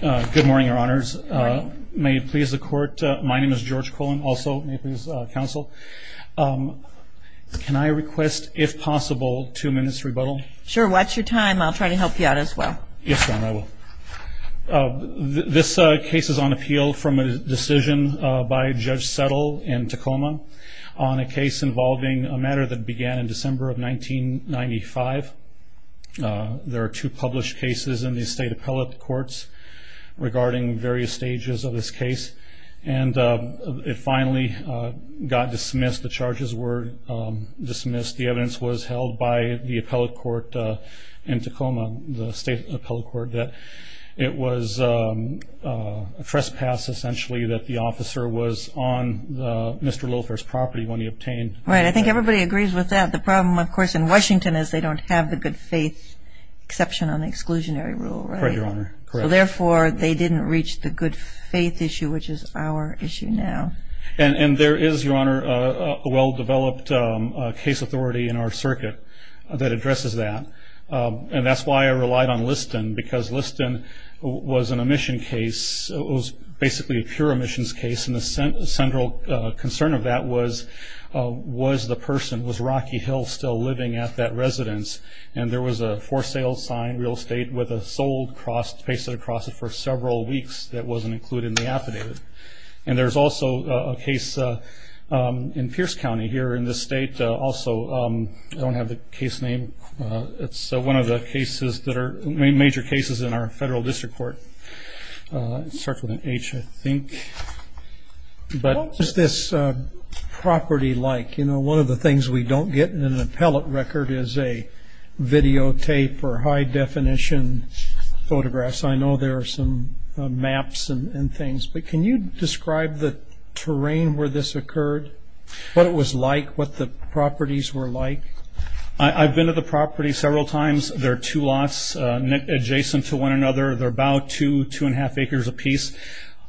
Good morning, your honors. May it please the court, my name is George Cullen, also may it please the counsel. Can I request, if possible, two minutes rebuttal? Sure, watch your time. I'll try to help you out as well. Yes, ma'am, I will. This case is on appeal from a decision by Judge Settle in Tacoma on a case involving a matter that began in December of 1995. There are two published cases in the state appellate courts regarding various stages of this case. And it finally got dismissed, the charges were dismissed. The evidence was held by the appellate court in Tacoma, the state appellate court, that it was a trespass, essentially, that the officer was on Mr. Littlefair's property when he obtained... Right, I think everybody agrees with that. The problem, of course, in Washington is they don't have the good faith exception on the exclusionary rule, right? Correct, your honor. So therefore, they didn't reach the good faith issue, which is our issue now. And there is, your honor, a well-developed case authority in our circuit that addresses that. And that's why I relied on Liston, because Liston was an omission case, it was basically a pure omissions case, and the central concern of that was, was the person, was Rocky Hill still living at that residence? And there was a for-sale sign, real estate, with a sold cross pasted across it for several weeks that wasn't included in the affidavit. And there's also a case in Pierce County here in this state, also, I don't have the case name, it's one of the major cases in our federal district court. It starts with an H, I think. What is this property like? You know, one of the things we don't get in an appellate record is a videotape or high-definition photographs. I know there are some maps and things, but can you describe the terrain where this occurred, what it was like, what the properties were like? I've been to the property several times. There are two lots adjacent to one another. They're about two, two-and-a-half acres apiece.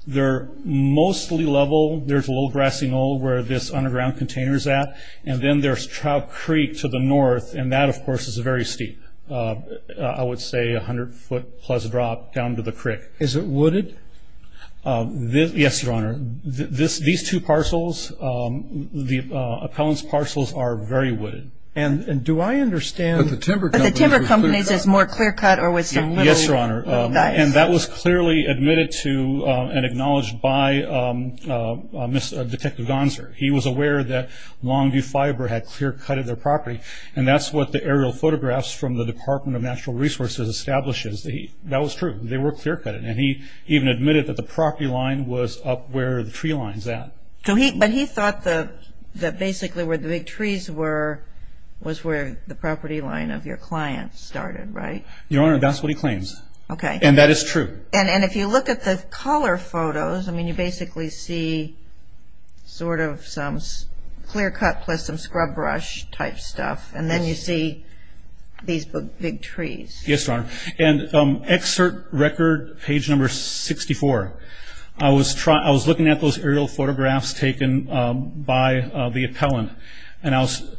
They're mostly level. There's a little grassy knoll where this underground container is at, and then there's Trout Creek to the north, and that, of course, is very steep. I would say 100-foot-plus drop down to the creek. Is it wooded? Yes, Your Honor. These two parcels, the appellant's parcels, are very wooded. Do I understand? But the timber company is more clear-cut? Yes, Your Honor, and that was clearly admitted to and acknowledged by Detective Gonser. He was aware that Longview Fiber had clear-cutted their property, and that's what the aerial photographs from the Department of Natural Resources establishes. That was true. They were clear-cutted, and he even admitted that the property line was up where the tree line's at. But he thought that basically where the big trees were was where the property line of your client started, right? Your Honor, that's what he claims, and that is true. And if you look at the color photos, I mean you basically see sort of some clear-cut plus some scrub brush type stuff, and then you see these big trees. Yes, Your Honor. And excerpt record page number 64. I was looking at those aerial photographs taken by the appellant, and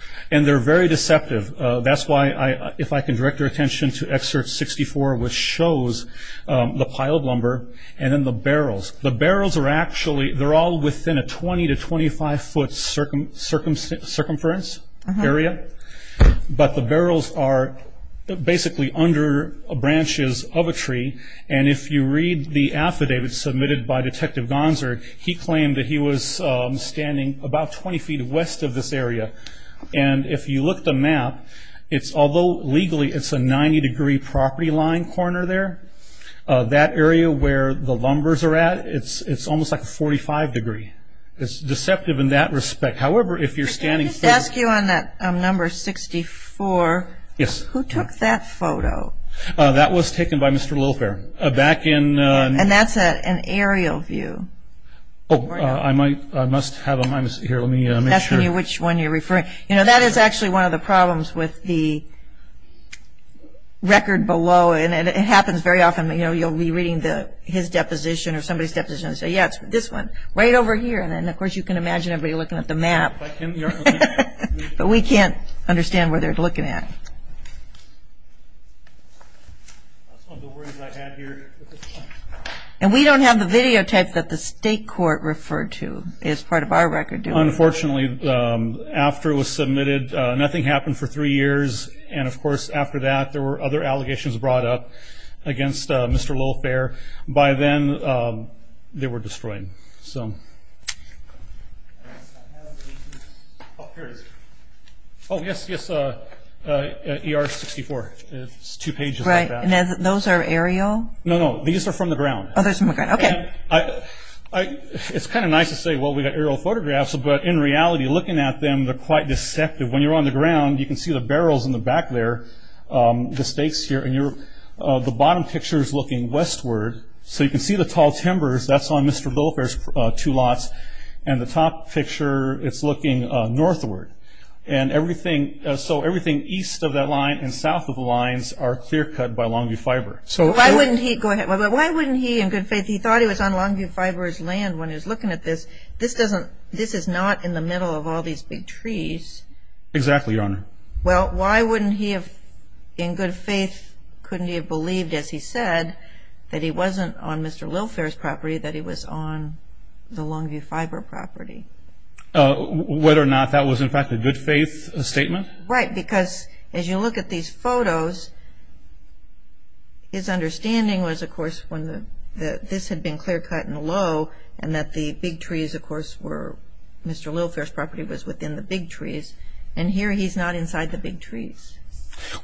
they're very deceptive. That's why, if I can direct your attention to excerpt 64, which shows the piled lumber and then the barrels. The barrels are actually all within a 20 to 25-foot circumference area, but the barrels are basically under branches of a tree. And if you read the affidavit submitted by Detective Gonser, he claimed that he was standing about 20 feet west of this area. And if you look at the map, although legally it's a 90-degree property line corner there, that area where the lumbers are at, it's almost like a 45 degree. It's deceptive in that respect. However, if you're scanning... Can I just ask you on that number 64... Yes. Who took that photo? That was taken by Mr. Lilfair back in... And that's an aerial view. Oh, I must have... Here, let me make sure. I'm asking you which one you're referring. You know, that is actually one of the problems with the record below, and it happens very often, you know, you'll be reading his deposition or somebody's deposition and say, yeah, it's this one right over here. And, of course, you can imagine everybody looking at the map, but we can't understand what they're looking at. And we don't have the video tape that the state court referred to as part of our record. Unfortunately, after it was submitted, nothing happened for three years, and, of course, after that there were other allegations brought up against Mr. Lilfair. By then they were destroyed. So... Oh, here it is. Oh, yes, yes, ER-64. It's two pages. Right. And those are aerial? No, no. These are from the ground. Oh, those are from the ground. Okay. It's kind of nice to say, well, we got aerial photographs, but in reality looking at them they're quite deceptive. When you're on the ground you can see the barrels in the back there, the stakes here, and the bottom picture is looking westward. So you can see the tall timbers, that's on Mr. Lilfair's two lots, and the top picture it's looking northward. And everything, so everything east of that line and south of the lines are clear cut by Longview Fiber. Why wouldn't he, in good faith, he thought he was on Longview Fiber's land when he was looking at this. This is not in the middle of all these big trees. Exactly, Your Honor. Well, why wouldn't he have, in good faith, couldn't he have believed, as he said, that he wasn't on Mr. Lilfair's property, that he was on the Longview Fiber property? Whether or not that was, in fact, a good faith statement? Right, because as you look at these photos, his understanding was, of course, when this had been clear cut and low and that the big trees, of course, were Mr. Lilfair's property was within the big trees. And here he's not inside the big trees.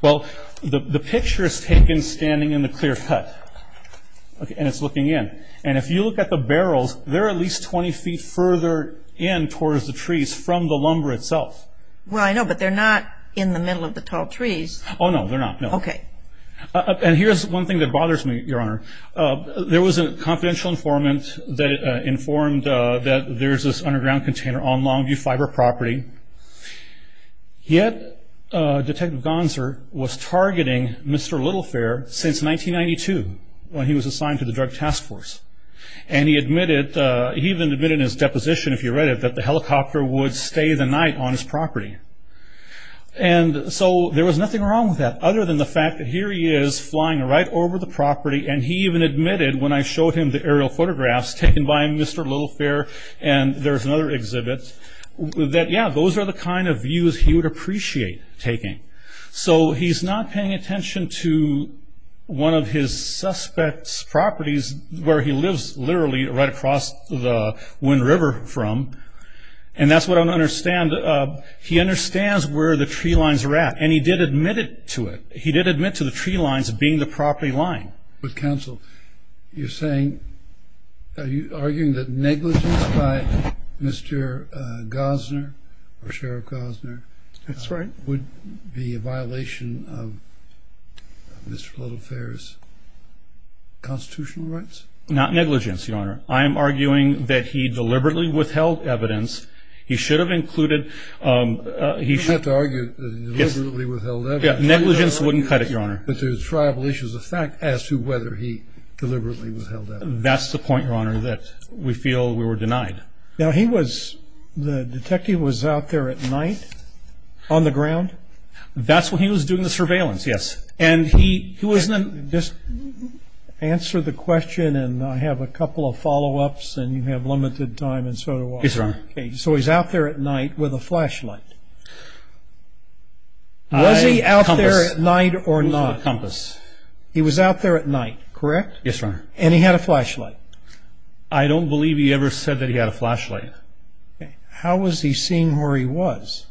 Well, the picture is taken standing in the clear cut. And it's looking in. And if you look at the barrels, they're at least 20 feet further in towards the trees from the lumber itself. Well, I know, but they're not in the middle of the tall trees. Oh, no, they're not, no. Okay. And here's one thing that bothers me, Your Honor. There was a confidential informant that informed that there's this underground container on Longview Fiber property. Yet, Detective Gonser was targeting Mr. Lilfair since 1992 when he was assigned to the Drug Task Force. And he admitted, he even admitted in his deposition, if you read it, that the helicopter would stay the night on his property. And so there was nothing wrong with that, other than the fact that here he is flying right over the property. And he even admitted, when I showed him the aerial photographs taken by Mr. Lilfair and there's another exhibit, that, yeah, those are the kind of views he would appreciate taking. So he's not paying attention to one of his suspect's properties where he lives literally right across the Wind River from. And that's what I don't understand. He understands where the tree lines are at. And he did admit it to it. He did admit to the tree lines being the property line. With counsel, you're saying, are you arguing that negligence by Mr. Gosner or Sheriff Gosner would be a violation of Mr. Lilfair's constitutional rights? Not negligence, Your Honor. I am arguing that he deliberately withheld evidence. He should have included. You have to argue that he deliberately withheld evidence. Negligence wouldn't cut it, Your Honor. But there's tribal issues of fact as to whether he deliberately withheld evidence. That's the point, Your Honor, that we feel we were denied. Now, he was, the detective was out there at night on the ground? That's when he was doing the surveillance, yes. And he wasn't. Just answer the question and I have a couple of follow-ups and you have limited time and so do I. Yes, Your Honor. So he's out there at night with a flashlight. Was he out there at night or not? With a compass. He was out there at night, correct? Yes, Your Honor. And he had a flashlight. I don't believe he ever said that he had a flashlight. Okay. How was he seeing where he was?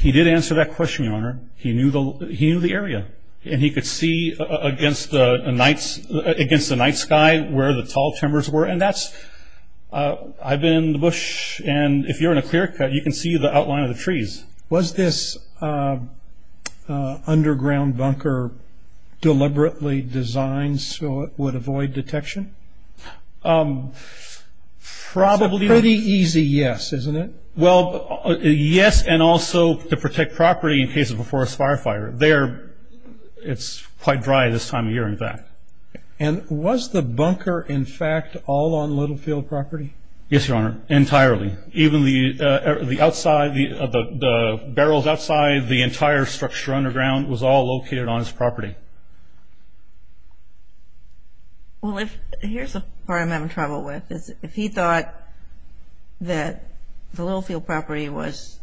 He did answer that question, Your Honor. He knew the area. And he could see against the night sky where the tall timbers were. And that's, I've been in the bush, and if you're in a clear cut you can see the outline of the trees. Was this underground bunker deliberately designed so it would avoid detection? Probably. It's a pretty easy yes, isn't it? Well, yes, and also to protect property in case of a forest fire fire. And was the bunker, in fact, all on Littlefield property? Yes, Your Honor, entirely. Even the outside, the barrels outside, the entire structure underground was all located on his property. Here's the part I'm having trouble with. If he thought that the Littlefield property was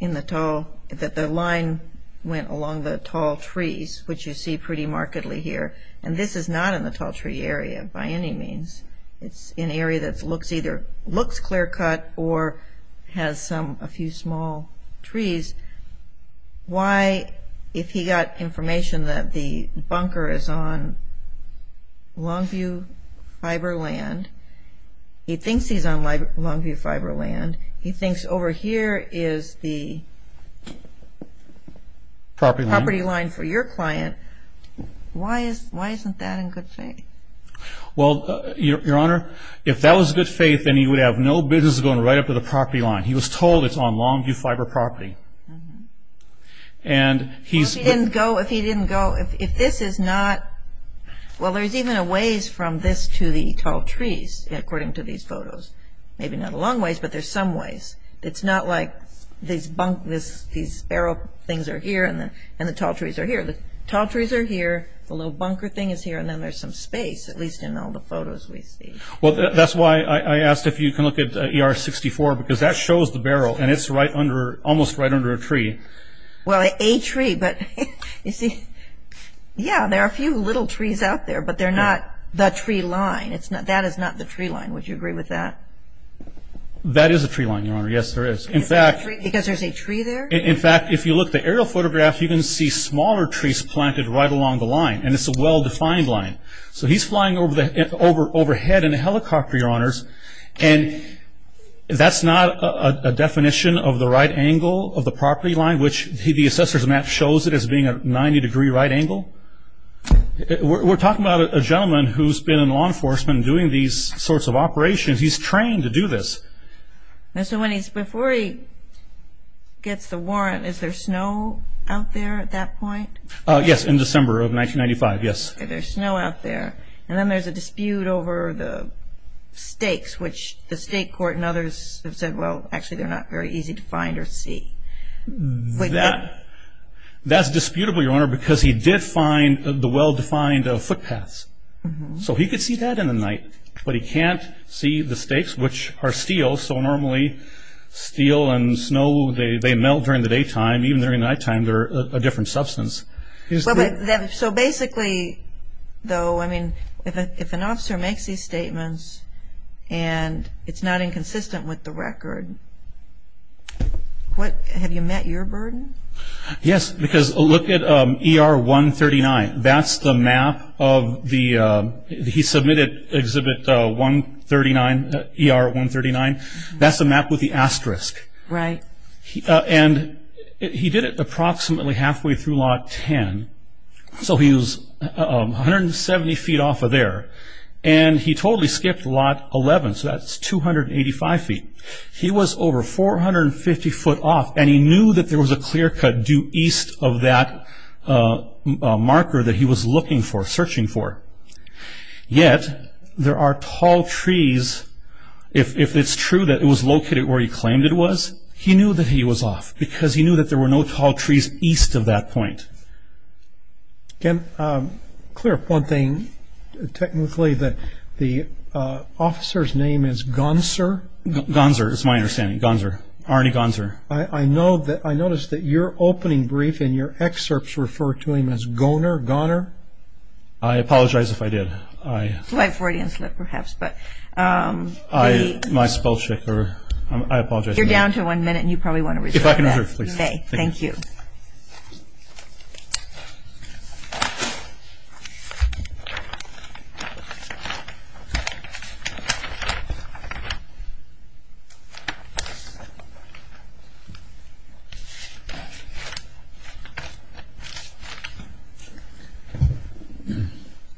in the tall, that the line went along the tall trees, which you see pretty markedly here, and this is not in the tall tree area by any means. It's an area that either looks clear cut or has a few small trees. Why, if he got information that the bunker is on Longview fiber land, he thinks he's on Longview fiber land. He thinks over here is the property line for your client. Why isn't that in good faith? Well, Your Honor, if that was in good faith, then he would have no business going right up to the property line. He was told it's on Longview fiber property. Well, if he didn't go, if this is not, well, there's even a ways from this to the tall trees according to these photos. Maybe not a long ways, but there's some ways. It's not like these barrel things are here and the tall trees are here. The tall trees are here. The little bunker thing is here, and then there's some space, at least in all the photos we see. Well, that's why I asked if you can look at ER-64, because that shows the barrel, and it's almost right under a tree. Well, a tree, but you see, yeah, there are a few little trees out there, but they're not the tree line. That is not the tree line. Would you agree with that? That is a tree line, Your Honor. Yes, there is. Because there's a tree there? In fact, if you look at the aerial photograph, you can see smaller trees planted right along the line, and it's a well-defined line. So he's flying overhead in a helicopter, Your Honors, and that's not a definition of the right angle of the property line, which the assessor's map shows it as being a 90-degree right angle. We're talking about a gentleman who's been in law enforcement doing these sorts of operations. He's trained to do this. So before he gets the warrant, is there snow out there at that point? Yes, in December of 1995, yes. Okay, there's snow out there. And then there's a dispute over the stakes, which the state court and others have said, well, actually they're not very easy to find or see. That's disputable, Your Honor, because he did find the well-defined footpaths. So he could see that in the night, but he can't see the stakes, which are steel. So normally steel and snow, they melt during the daytime. Even during the nighttime, they're a different substance. So basically, though, I mean, if an officer makes these statements and it's not inconsistent with the record, have you met your burden? Yes, because look at ER 139. That's the map of the – he submitted Exhibit 139, ER 139. That's the map with the asterisk. Right. And he did it approximately halfway through Lot 10. So he was 170 feet off of there. And he totally skipped Lot 11, so that's 285 feet. He was over 450 foot off, and he knew that there was a clear cut due east of that marker that he was looking for, searching for. Yet there are tall trees. If it's true that it was located where he claimed it was, he knew that he was off, because he knew that there were no tall trees east of that point. Ken, clear up one thing. Technically, the officer's name is Gonser? Gonser is my understanding. Gonser. Arnie Gonser. I know that – I noticed that your opening brief and your excerpts refer to him as Goner, Goner. I apologize if I did. Slight Freudian slip, perhaps. But the – My spell checker. I apologize. You're down to one minute, and you probably want to resolve that. If I can hear, please. Okay. Thank you.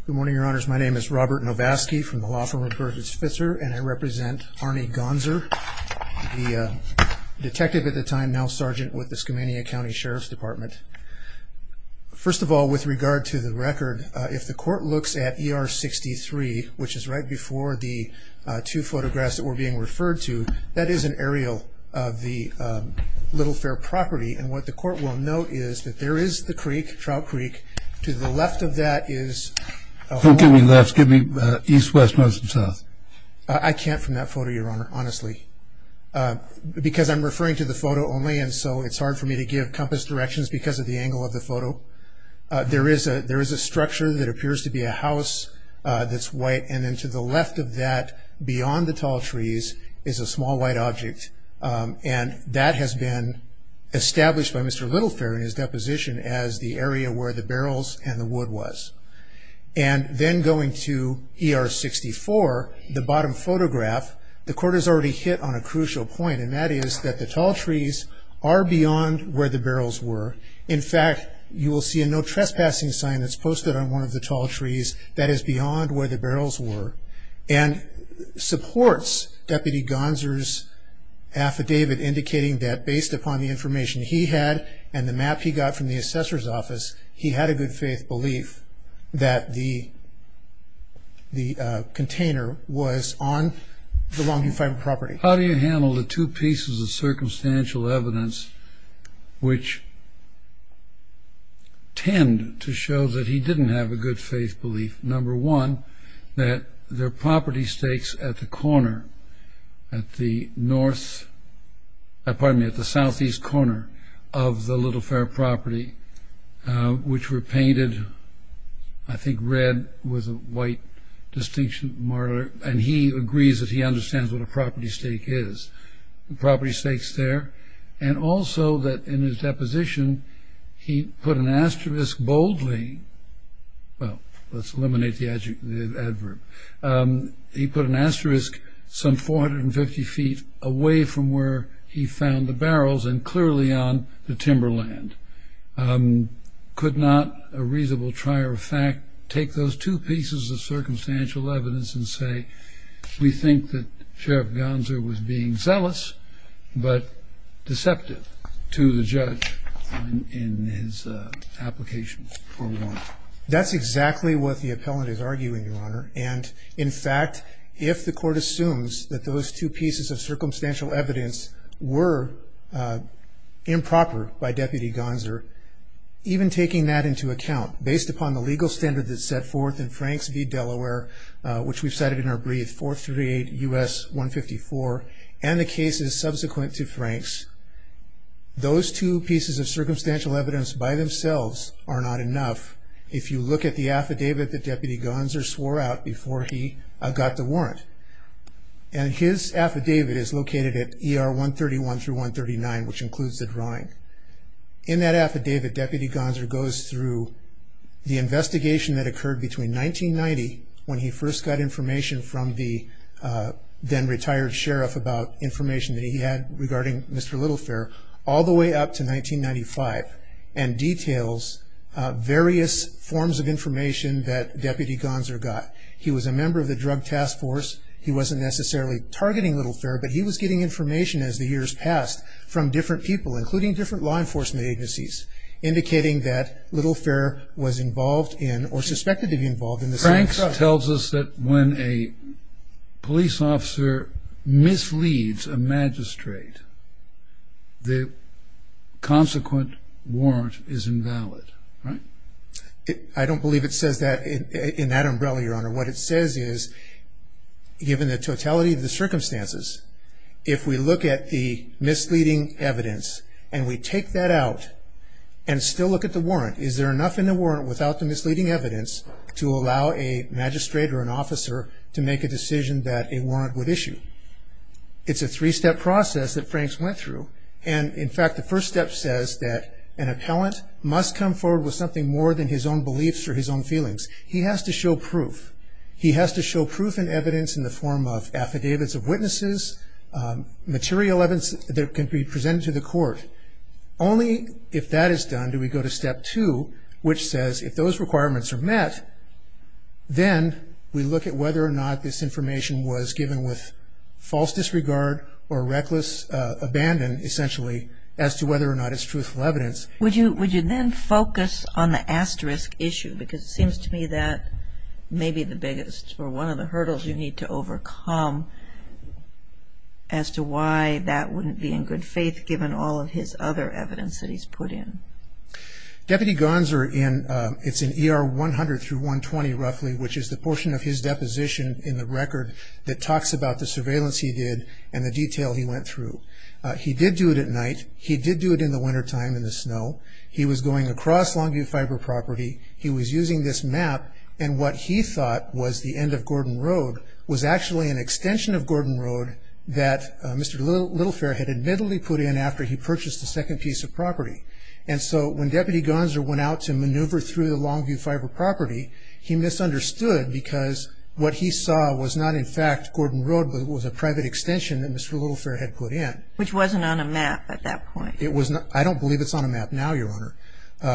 Good morning, Your Honors. My name is Robert Novasky from the Law Firm of George Fitzgerald, and I represent Arnie Gonser, the detective at the time, now sergeant with the Skamania County Sheriff's Department. First of all, with regard to the record, if the court looks at ER 63, which is right before the two photographs that were being referred to, that is an aerial of the Little Fair property, and what the court will note is that there is the creek, Trout Creek. To the left of that is – Don't give me lefts. Give me east, west, north, and south. I can't from that photo, Your Honor, honestly, because I'm referring to the photo only, and so it's hard for me to give compass directions because of the angle of the photo. There is a structure that appears to be a house that's white, and then to the left of that, beyond the tall trees, is a small white object, and that has been established by Mr. Little Fair in his deposition as the area where the barrels and the wood was. And then going to ER 64, the bottom photograph, the court has already hit on a crucial point, and that is that the tall trees are beyond where the barrels were. In fact, you will see a no trespassing sign that's posted on one of the tall trees that is beyond where the barrels were, and supports Deputy Gonser's affidavit indicating that, based upon the information he had and the map he got from the assessor's office, he had a good faith belief that the container was on the Longview Fiber property. How do you handle the two pieces of circumstantial evidence which tend to show that he didn't have a good faith belief? Number one, that their property stakes at the corner, at the northeast corner of the Little Fair property, which were painted, I think, red with a white distinction, and he agrees that he understands what a property stake is, the property stakes there, and also that in his deposition, he put an asterisk boldly, well, let's eliminate the adverb, he put an asterisk some 450 feet away from where he found the barrels, and clearly on the timberland. Could not a reasonable trier of fact take those two pieces of circumstantial evidence and say we think that Sheriff Gonser was being zealous, but deceptive to the judge in his application? That's exactly what the appellant is arguing, Your Honor, and in fact, if the court assumes that those two pieces of circumstantial evidence were improper by Deputy Gonser, even taking that into account, based upon the legal standard that's set forth in Franks v. Delaware, which we've cited in our brief, 438 U.S. 154, and the cases subsequent to Franks, those two pieces of circumstantial evidence by themselves are not enough. If you look at the affidavit that Deputy Gonser swore out before he got the warrant, and his affidavit is located at ER 131 through 139, which includes the drawing. In that affidavit, Deputy Gonser goes through the investigation that occurred between 1990, when he first got information from the then-retired sheriff about information that he had regarding Mr. Littlefair, all the way up to 1995, and details various forms of information that Deputy Gonser got. He was a member of the Drug Task Force. He wasn't necessarily targeting Littlefair, but he was getting information as the years passed from different people, including different law enforcement agencies, indicating that Littlefair was involved in, or suspected to be involved in, the same crime. Franks tells us that when a police officer misleads a magistrate, the consequent warrant is invalid, right? I don't believe it says that in that umbrella, Your Honor. What it says is, given the totality of the circumstances, if we look at the misleading evidence and we take that out and still look at the warrant, is there enough in the warrant without the misleading evidence to allow a magistrate or an officer to make a decision that a warrant would issue? It's a three-step process that Franks went through, and, in fact, the first step says that an appellant must come forward with something more than his own beliefs or his own feelings. He has to show proof. He has to show proof and evidence in the form of affidavits of witnesses, material evidence that can be presented to the court. Only if that is done do we go to step two, which says if those requirements are met, then we look at whether or not this information was given with false disregard or reckless abandon, essentially, as to whether or not it's truthful evidence. Would you then focus on the asterisk issue? Because it seems to me that may be the biggest or one of the hurdles you need to overcome as to why that wouldn't be in good faith given all of his other evidence that he's put in. Deputy Gonser, it's in ER 100 through 120, roughly, which is the portion of his deposition in the record that talks about the surveillance he did and the detail he went through. He did do it at night. He did do it in the wintertime in the snow. He was going across Longview Fiber Property. He was using this map, and what he thought was the end of Gordon Road was actually an extension of Gordon Road that Mr. Littlefair had admittedly put in after he purchased the second piece of property. And so when Deputy Gonser went out to maneuver through the Longview Fiber Property, he misunderstood because what he saw was not, in fact, Gordon Road, but it was a private extension that Mr. Littlefair had put in. Which wasn't on a map at that point. I don't believe it's on a map now, Your Honor,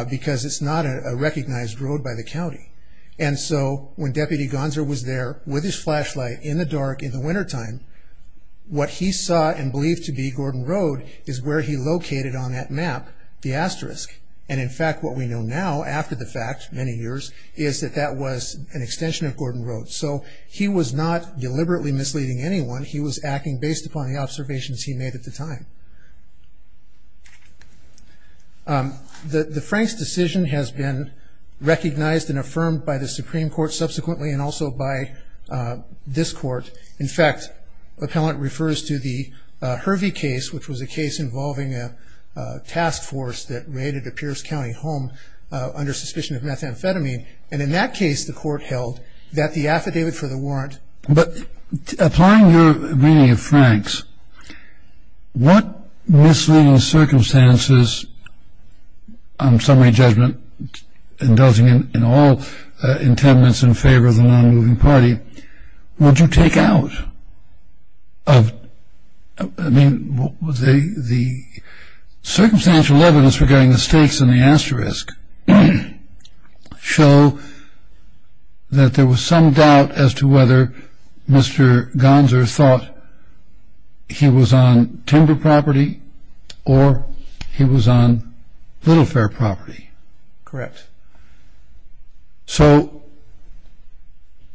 because it's not a recognized road by the county. And so when Deputy Gonser was there with his flashlight in the dark in the wintertime, what he saw and believed to be Gordon Road is where he located on that map the asterisk. And, in fact, what we know now after the fact, many years, is that that was an extension of Gordon Road. So he was not deliberately misleading anyone. He was acting based upon the observations he made at the time. The Franks decision has been recognized and affirmed by the Supreme Court subsequently and also by this Court. In fact, the appellant refers to the Hervey case, which was a case involving a task force that raided a Pierce County home under suspicion of methamphetamine. And in that case, the Court held that the affidavit for the warrant. But applying your reading of Franks, what misleading circumstances, on summary judgment, indulging in all intendance in favor of the non-moving party, would you take out? I mean, the circumstantial evidence regarding the stakes in the asterisk show that there was some doubt as to whether Mr. Gonser thought he was on timber property or he was on little fair property. Correct. So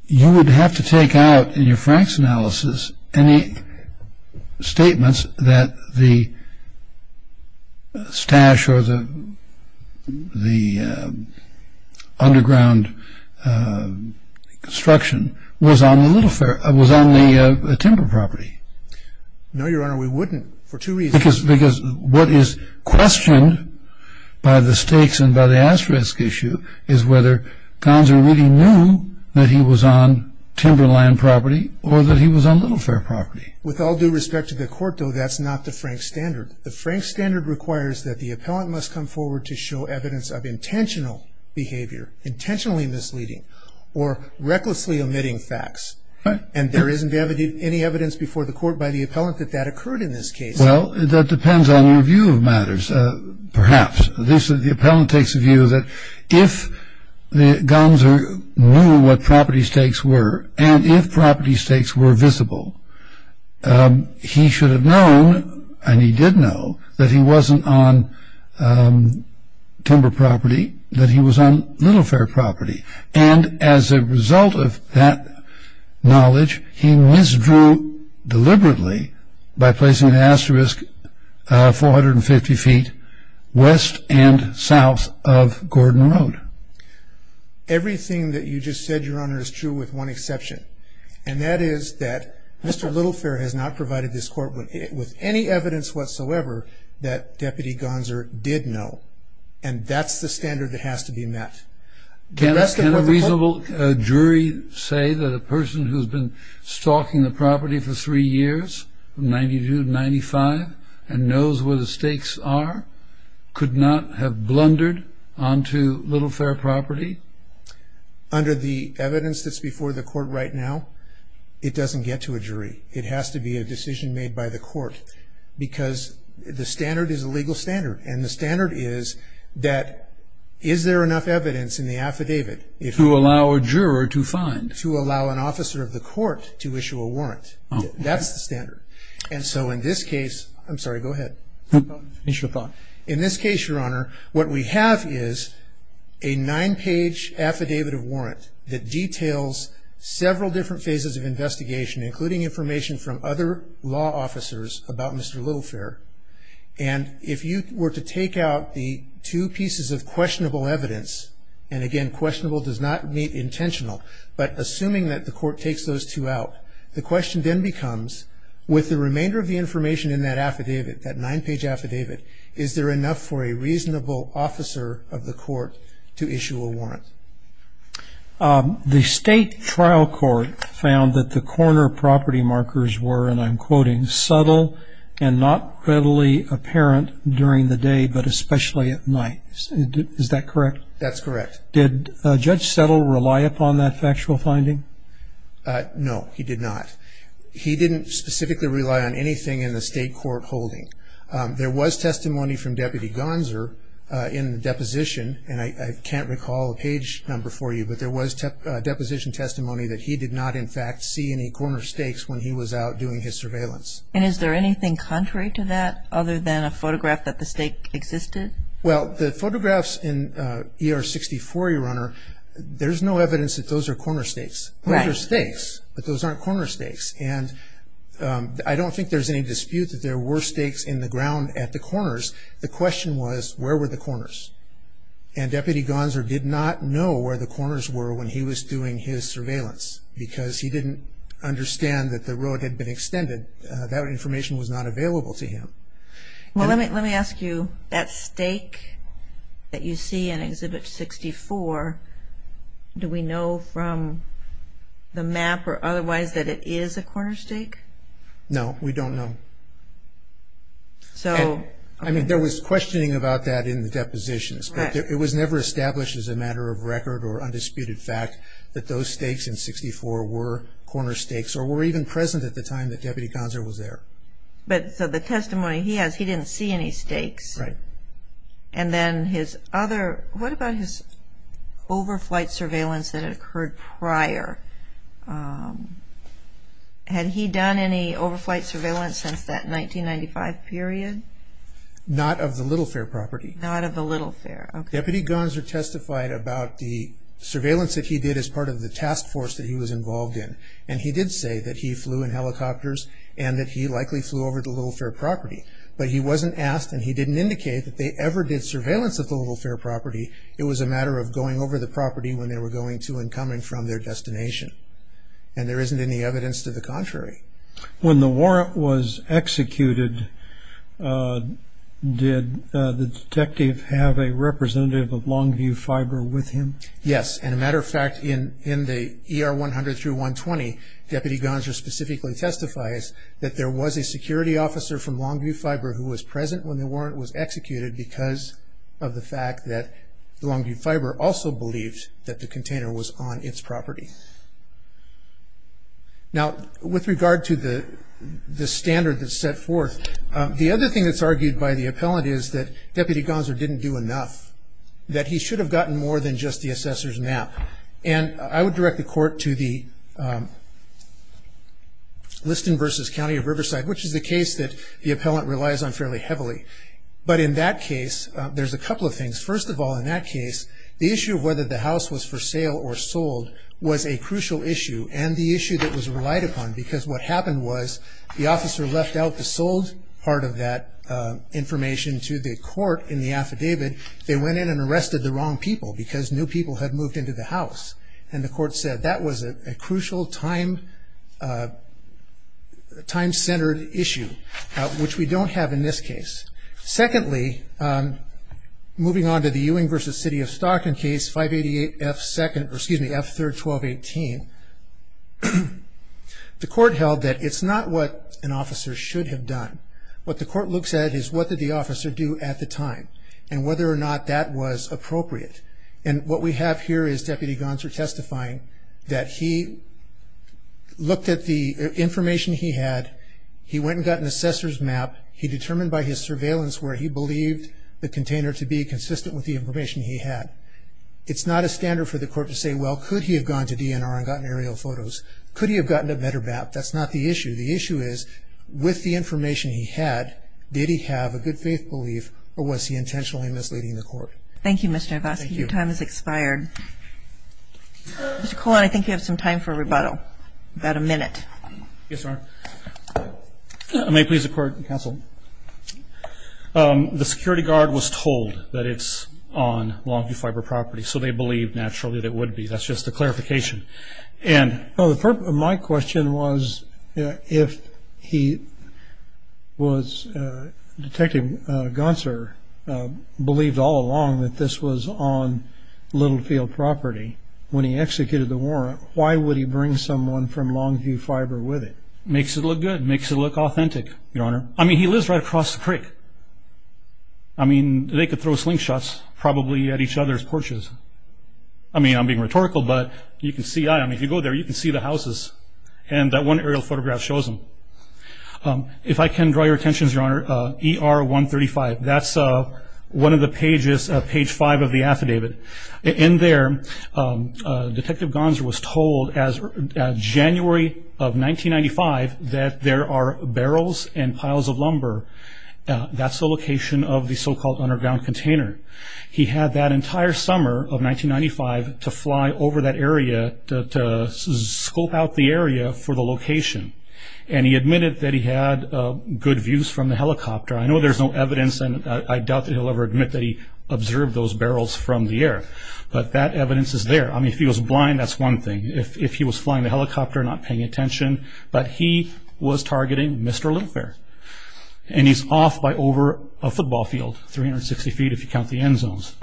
you would have to take out in your Franks analysis any statements that the stash or the underground construction was on the timber property. No, Your Honor, we wouldn't, for two reasons. Because what is questioned by the stakes and by the asterisk issue is whether Gonser really knew that he was on timberland property or that he was on little fair property. With all due respect to the Court, though, that's not the Franks standard. The Franks standard requires that the appellant must come forward to show evidence of intentional behavior, intentionally misleading, or recklessly omitting facts. And there isn't any evidence before the Court by the appellant that that occurred in this case. Well, that depends on your view of matters, perhaps. The appellant takes the view that if Gonser knew what property stakes were, and if property stakes were visible, he should have known, and he did know, that he wasn't on timber property, that he was on little fair property. And as a result of that knowledge, he misdrew deliberately by placing an asterisk 450 feet west and south of Gordon Road. Everything that you just said, Your Honor, is true with one exception. And that is that Mr. Little Fair has not provided this Court with any evidence whatsoever that Deputy Gonser did know. And that's the standard that has to be met. Can a reasonable jury say that a person who's been stalking the property for three years, from 1992 to 1995, and knows where the stakes are, could not have blundered onto Little Fair property? Under the evidence that's before the Court right now, it doesn't get to a jury. It has to be a decision made by the Court, because the standard is a legal standard. And the standard is that, is there enough evidence in the affidavit? To allow a juror to find? To allow an officer of the Court to issue a warrant. That's the standard. And so in this case, I'm sorry, go ahead. In this case, Your Honor, what we have is a nine-page affidavit of warrant that details several different phases of investigation, including information from other law officers about Mr. Little Fair. And if you were to take out the two pieces of questionable evidence, and again, questionable does not mean intentional, but assuming that the Court takes those two out, the question then becomes, with the remainder of the information in that affidavit, that nine-page affidavit, is there enough for a reasonable officer of the Court to issue a warrant? The State Trial Court found that the corner property markers were, and I'm quoting, subtle and not readily apparent during the day, but especially at night. Is that correct? That's correct. Did Judge Settle rely upon that factual finding? No, he did not. He didn't specifically rely on anything in the State Court holding. There was testimony from Deputy Gonzer in the deposition, and I can't recall a page number for you, but there was deposition testimony that he did not, in fact, see any corner stakes when he was out doing his surveillance. And is there anything contrary to that, other than a photograph that the stake existed? Well, the photographs in ER-64, Your Honor, there's no evidence that those are corner stakes. Those are stakes, but those aren't corner stakes. And I don't think there's any dispute that there were stakes in the ground at the corners. The question was, where were the corners? And Deputy Gonzer did not know where the corners were when he was doing his surveillance because he didn't understand that the road had been extended. That information was not available to him. Well, let me ask you, that stake that you see in Exhibit 64, do we know from the map or otherwise that it is a corner stake? No, we don't know. I mean, there was questioning about that in the depositions, but it was never established as a matter of record or undisputed fact that those stakes in 64 were corner stakes or were even present at the time that Deputy Gonzer was there. But the testimony he has, he didn't see any stakes. Right. And then his other, what about his overflight surveillance that had occurred prior? Had he done any overflight surveillance since that 1995 period? Not of the Little Fair property. Not of the Little Fair, okay. Deputy Gonzer testified about the surveillance that he did as part of the task force that he was involved in. And he did say that he flew in helicopters and that he likely flew over the Little Fair property. But he wasn't asked and he didn't indicate that they ever did surveillance of the Little Fair property. It was a matter of going over the property when they were going to and coming from their destination. And there isn't any evidence to the contrary. When the warrant was executed, did the detective have a representative of Longview Fiber with him? Yes. And a matter of fact, in the ER 100 through 120, Deputy Gonzer specifically testifies that there was a security officer from Longview Fiber who was present when the warrant was executed because of the fact that Longview Fiber also believed that the container was on its property. Now, with regard to the standard that's set forth, the other thing that's argued by the appellant is that Deputy Gonzer didn't do enough, that he should have gotten more than just the assessor's map. And I would direct the court to the Liston versus County of Riverside, which is the case that the appellant relies on fairly heavily. But in that case, there's a couple of things. First of all, in that case, the issue of whether the house was for sale or sold was a crucial issue and the issue that was relied upon because what happened was the officer left out the sold part of that information to the court in the affidavit. They went in and arrested the wrong people because new people had moved into the house. And the court said that was a crucial time-centered issue, which we don't have in this case. Secondly, moving on to the Ewing versus City of Stockton case, 588F2nd, or excuse me, F3rd, 1218, the court held that it's not what an officer should have done. What the court looks at is what did the officer do at the time and whether or not that was appropriate. And what we have here is Deputy Gonser testifying that he looked at the information he had. He went and got an assessor's map. He determined by his surveillance where he believed the container to be consistent with the information he had. It's not a standard for the court to say, well, could he have gone to DNR and gotten aerial photos? Could he have gotten a better map? That's not the issue. The issue is with the information he had, did he have a good faith belief or was he intentionally misleading the court? Thank you, Mr. Hrabowski. Your time has expired. Mr. Colon, I think you have some time for a rebuttal, about a minute. Yes, ma'am. May it please the court and counsel. The security guard was told that it's on Longview Fiber property, so they believed naturally that it would be. That's just a clarification. My question was, if he was, Detective Gonser believed all along that this was on Littlefield property, when he executed the warrant, why would he bring someone from Longview Fiber with it? Makes it look good. Makes it look authentic, Your Honor. I mean, he lives right across the creek. I mean, they could throw slingshots probably at each other's porches. I mean, I'm being rhetorical, but you can see that. I mean, if you go there, you can see the houses, and that one aerial photograph shows them. If I can draw your attention, Your Honor, ER 135, that's one of the pages, page five of the affidavit. In there, Detective Gonser was told as of January of 1995 that there are barrels and piles of lumber. That's the location of the so-called underground container. He had that entire summer of 1995 to fly over that area to scope out the area for the location, and he admitted that he had good views from the helicopter. I know there's no evidence, and I doubt that he'll ever admit that he observed those barrels from the air, but that evidence is there. I mean, if he was blind, that's one thing. If he was flying the helicopter, not paying attention, but he was targeting Mr. Littlefair, and he's off by over a football field, 360 feet if you count the end zones.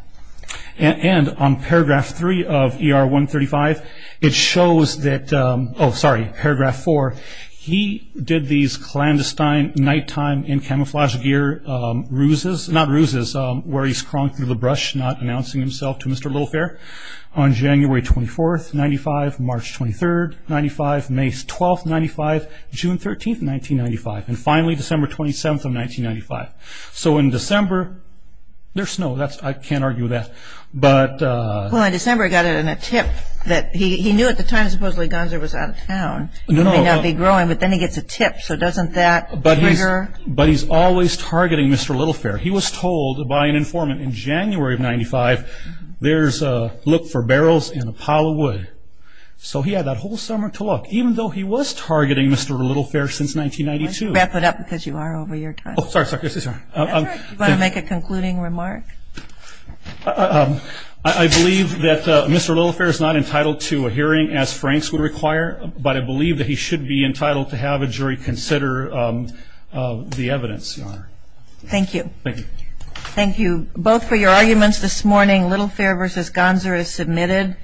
And on paragraph three of ER 135, it shows that, oh, sorry, paragraph four, he did these clandestine nighttime in camouflage gear ruses, not ruses, where he's crawling through the brush, not announcing himself to Mr. Littlefair, on January 24th, 1995, March 23rd, 1995, May 12th, 1995, June 13th, 1995. And finally, December 27th of 1995. So in December, there's snow. I can't argue with that. Well, in December, he got it in a tip. He knew at the time, supposedly, Gunzer was out of town. He may not be growing, but then he gets a tip, so doesn't that trigger? But he's always targeting Mr. Littlefair. He was told by an informant in January of 1995, there's a look for barrels in a pile of wood. So he had that whole summer to look, even though he was targeting Mr. Littlefair since 1992. Why don't you wrap it up, because you are over your time. Oh, sorry. Do you want to make a concluding remark? I believe that Mr. Littlefair is not entitled to a hearing, as Frank's would require, but I believe that he should be entitled to have a jury consider the evidence, Your Honor. Thank you. Thank you. Thank you both for your arguments this morning. Littlefair v. Gunzer is submitted.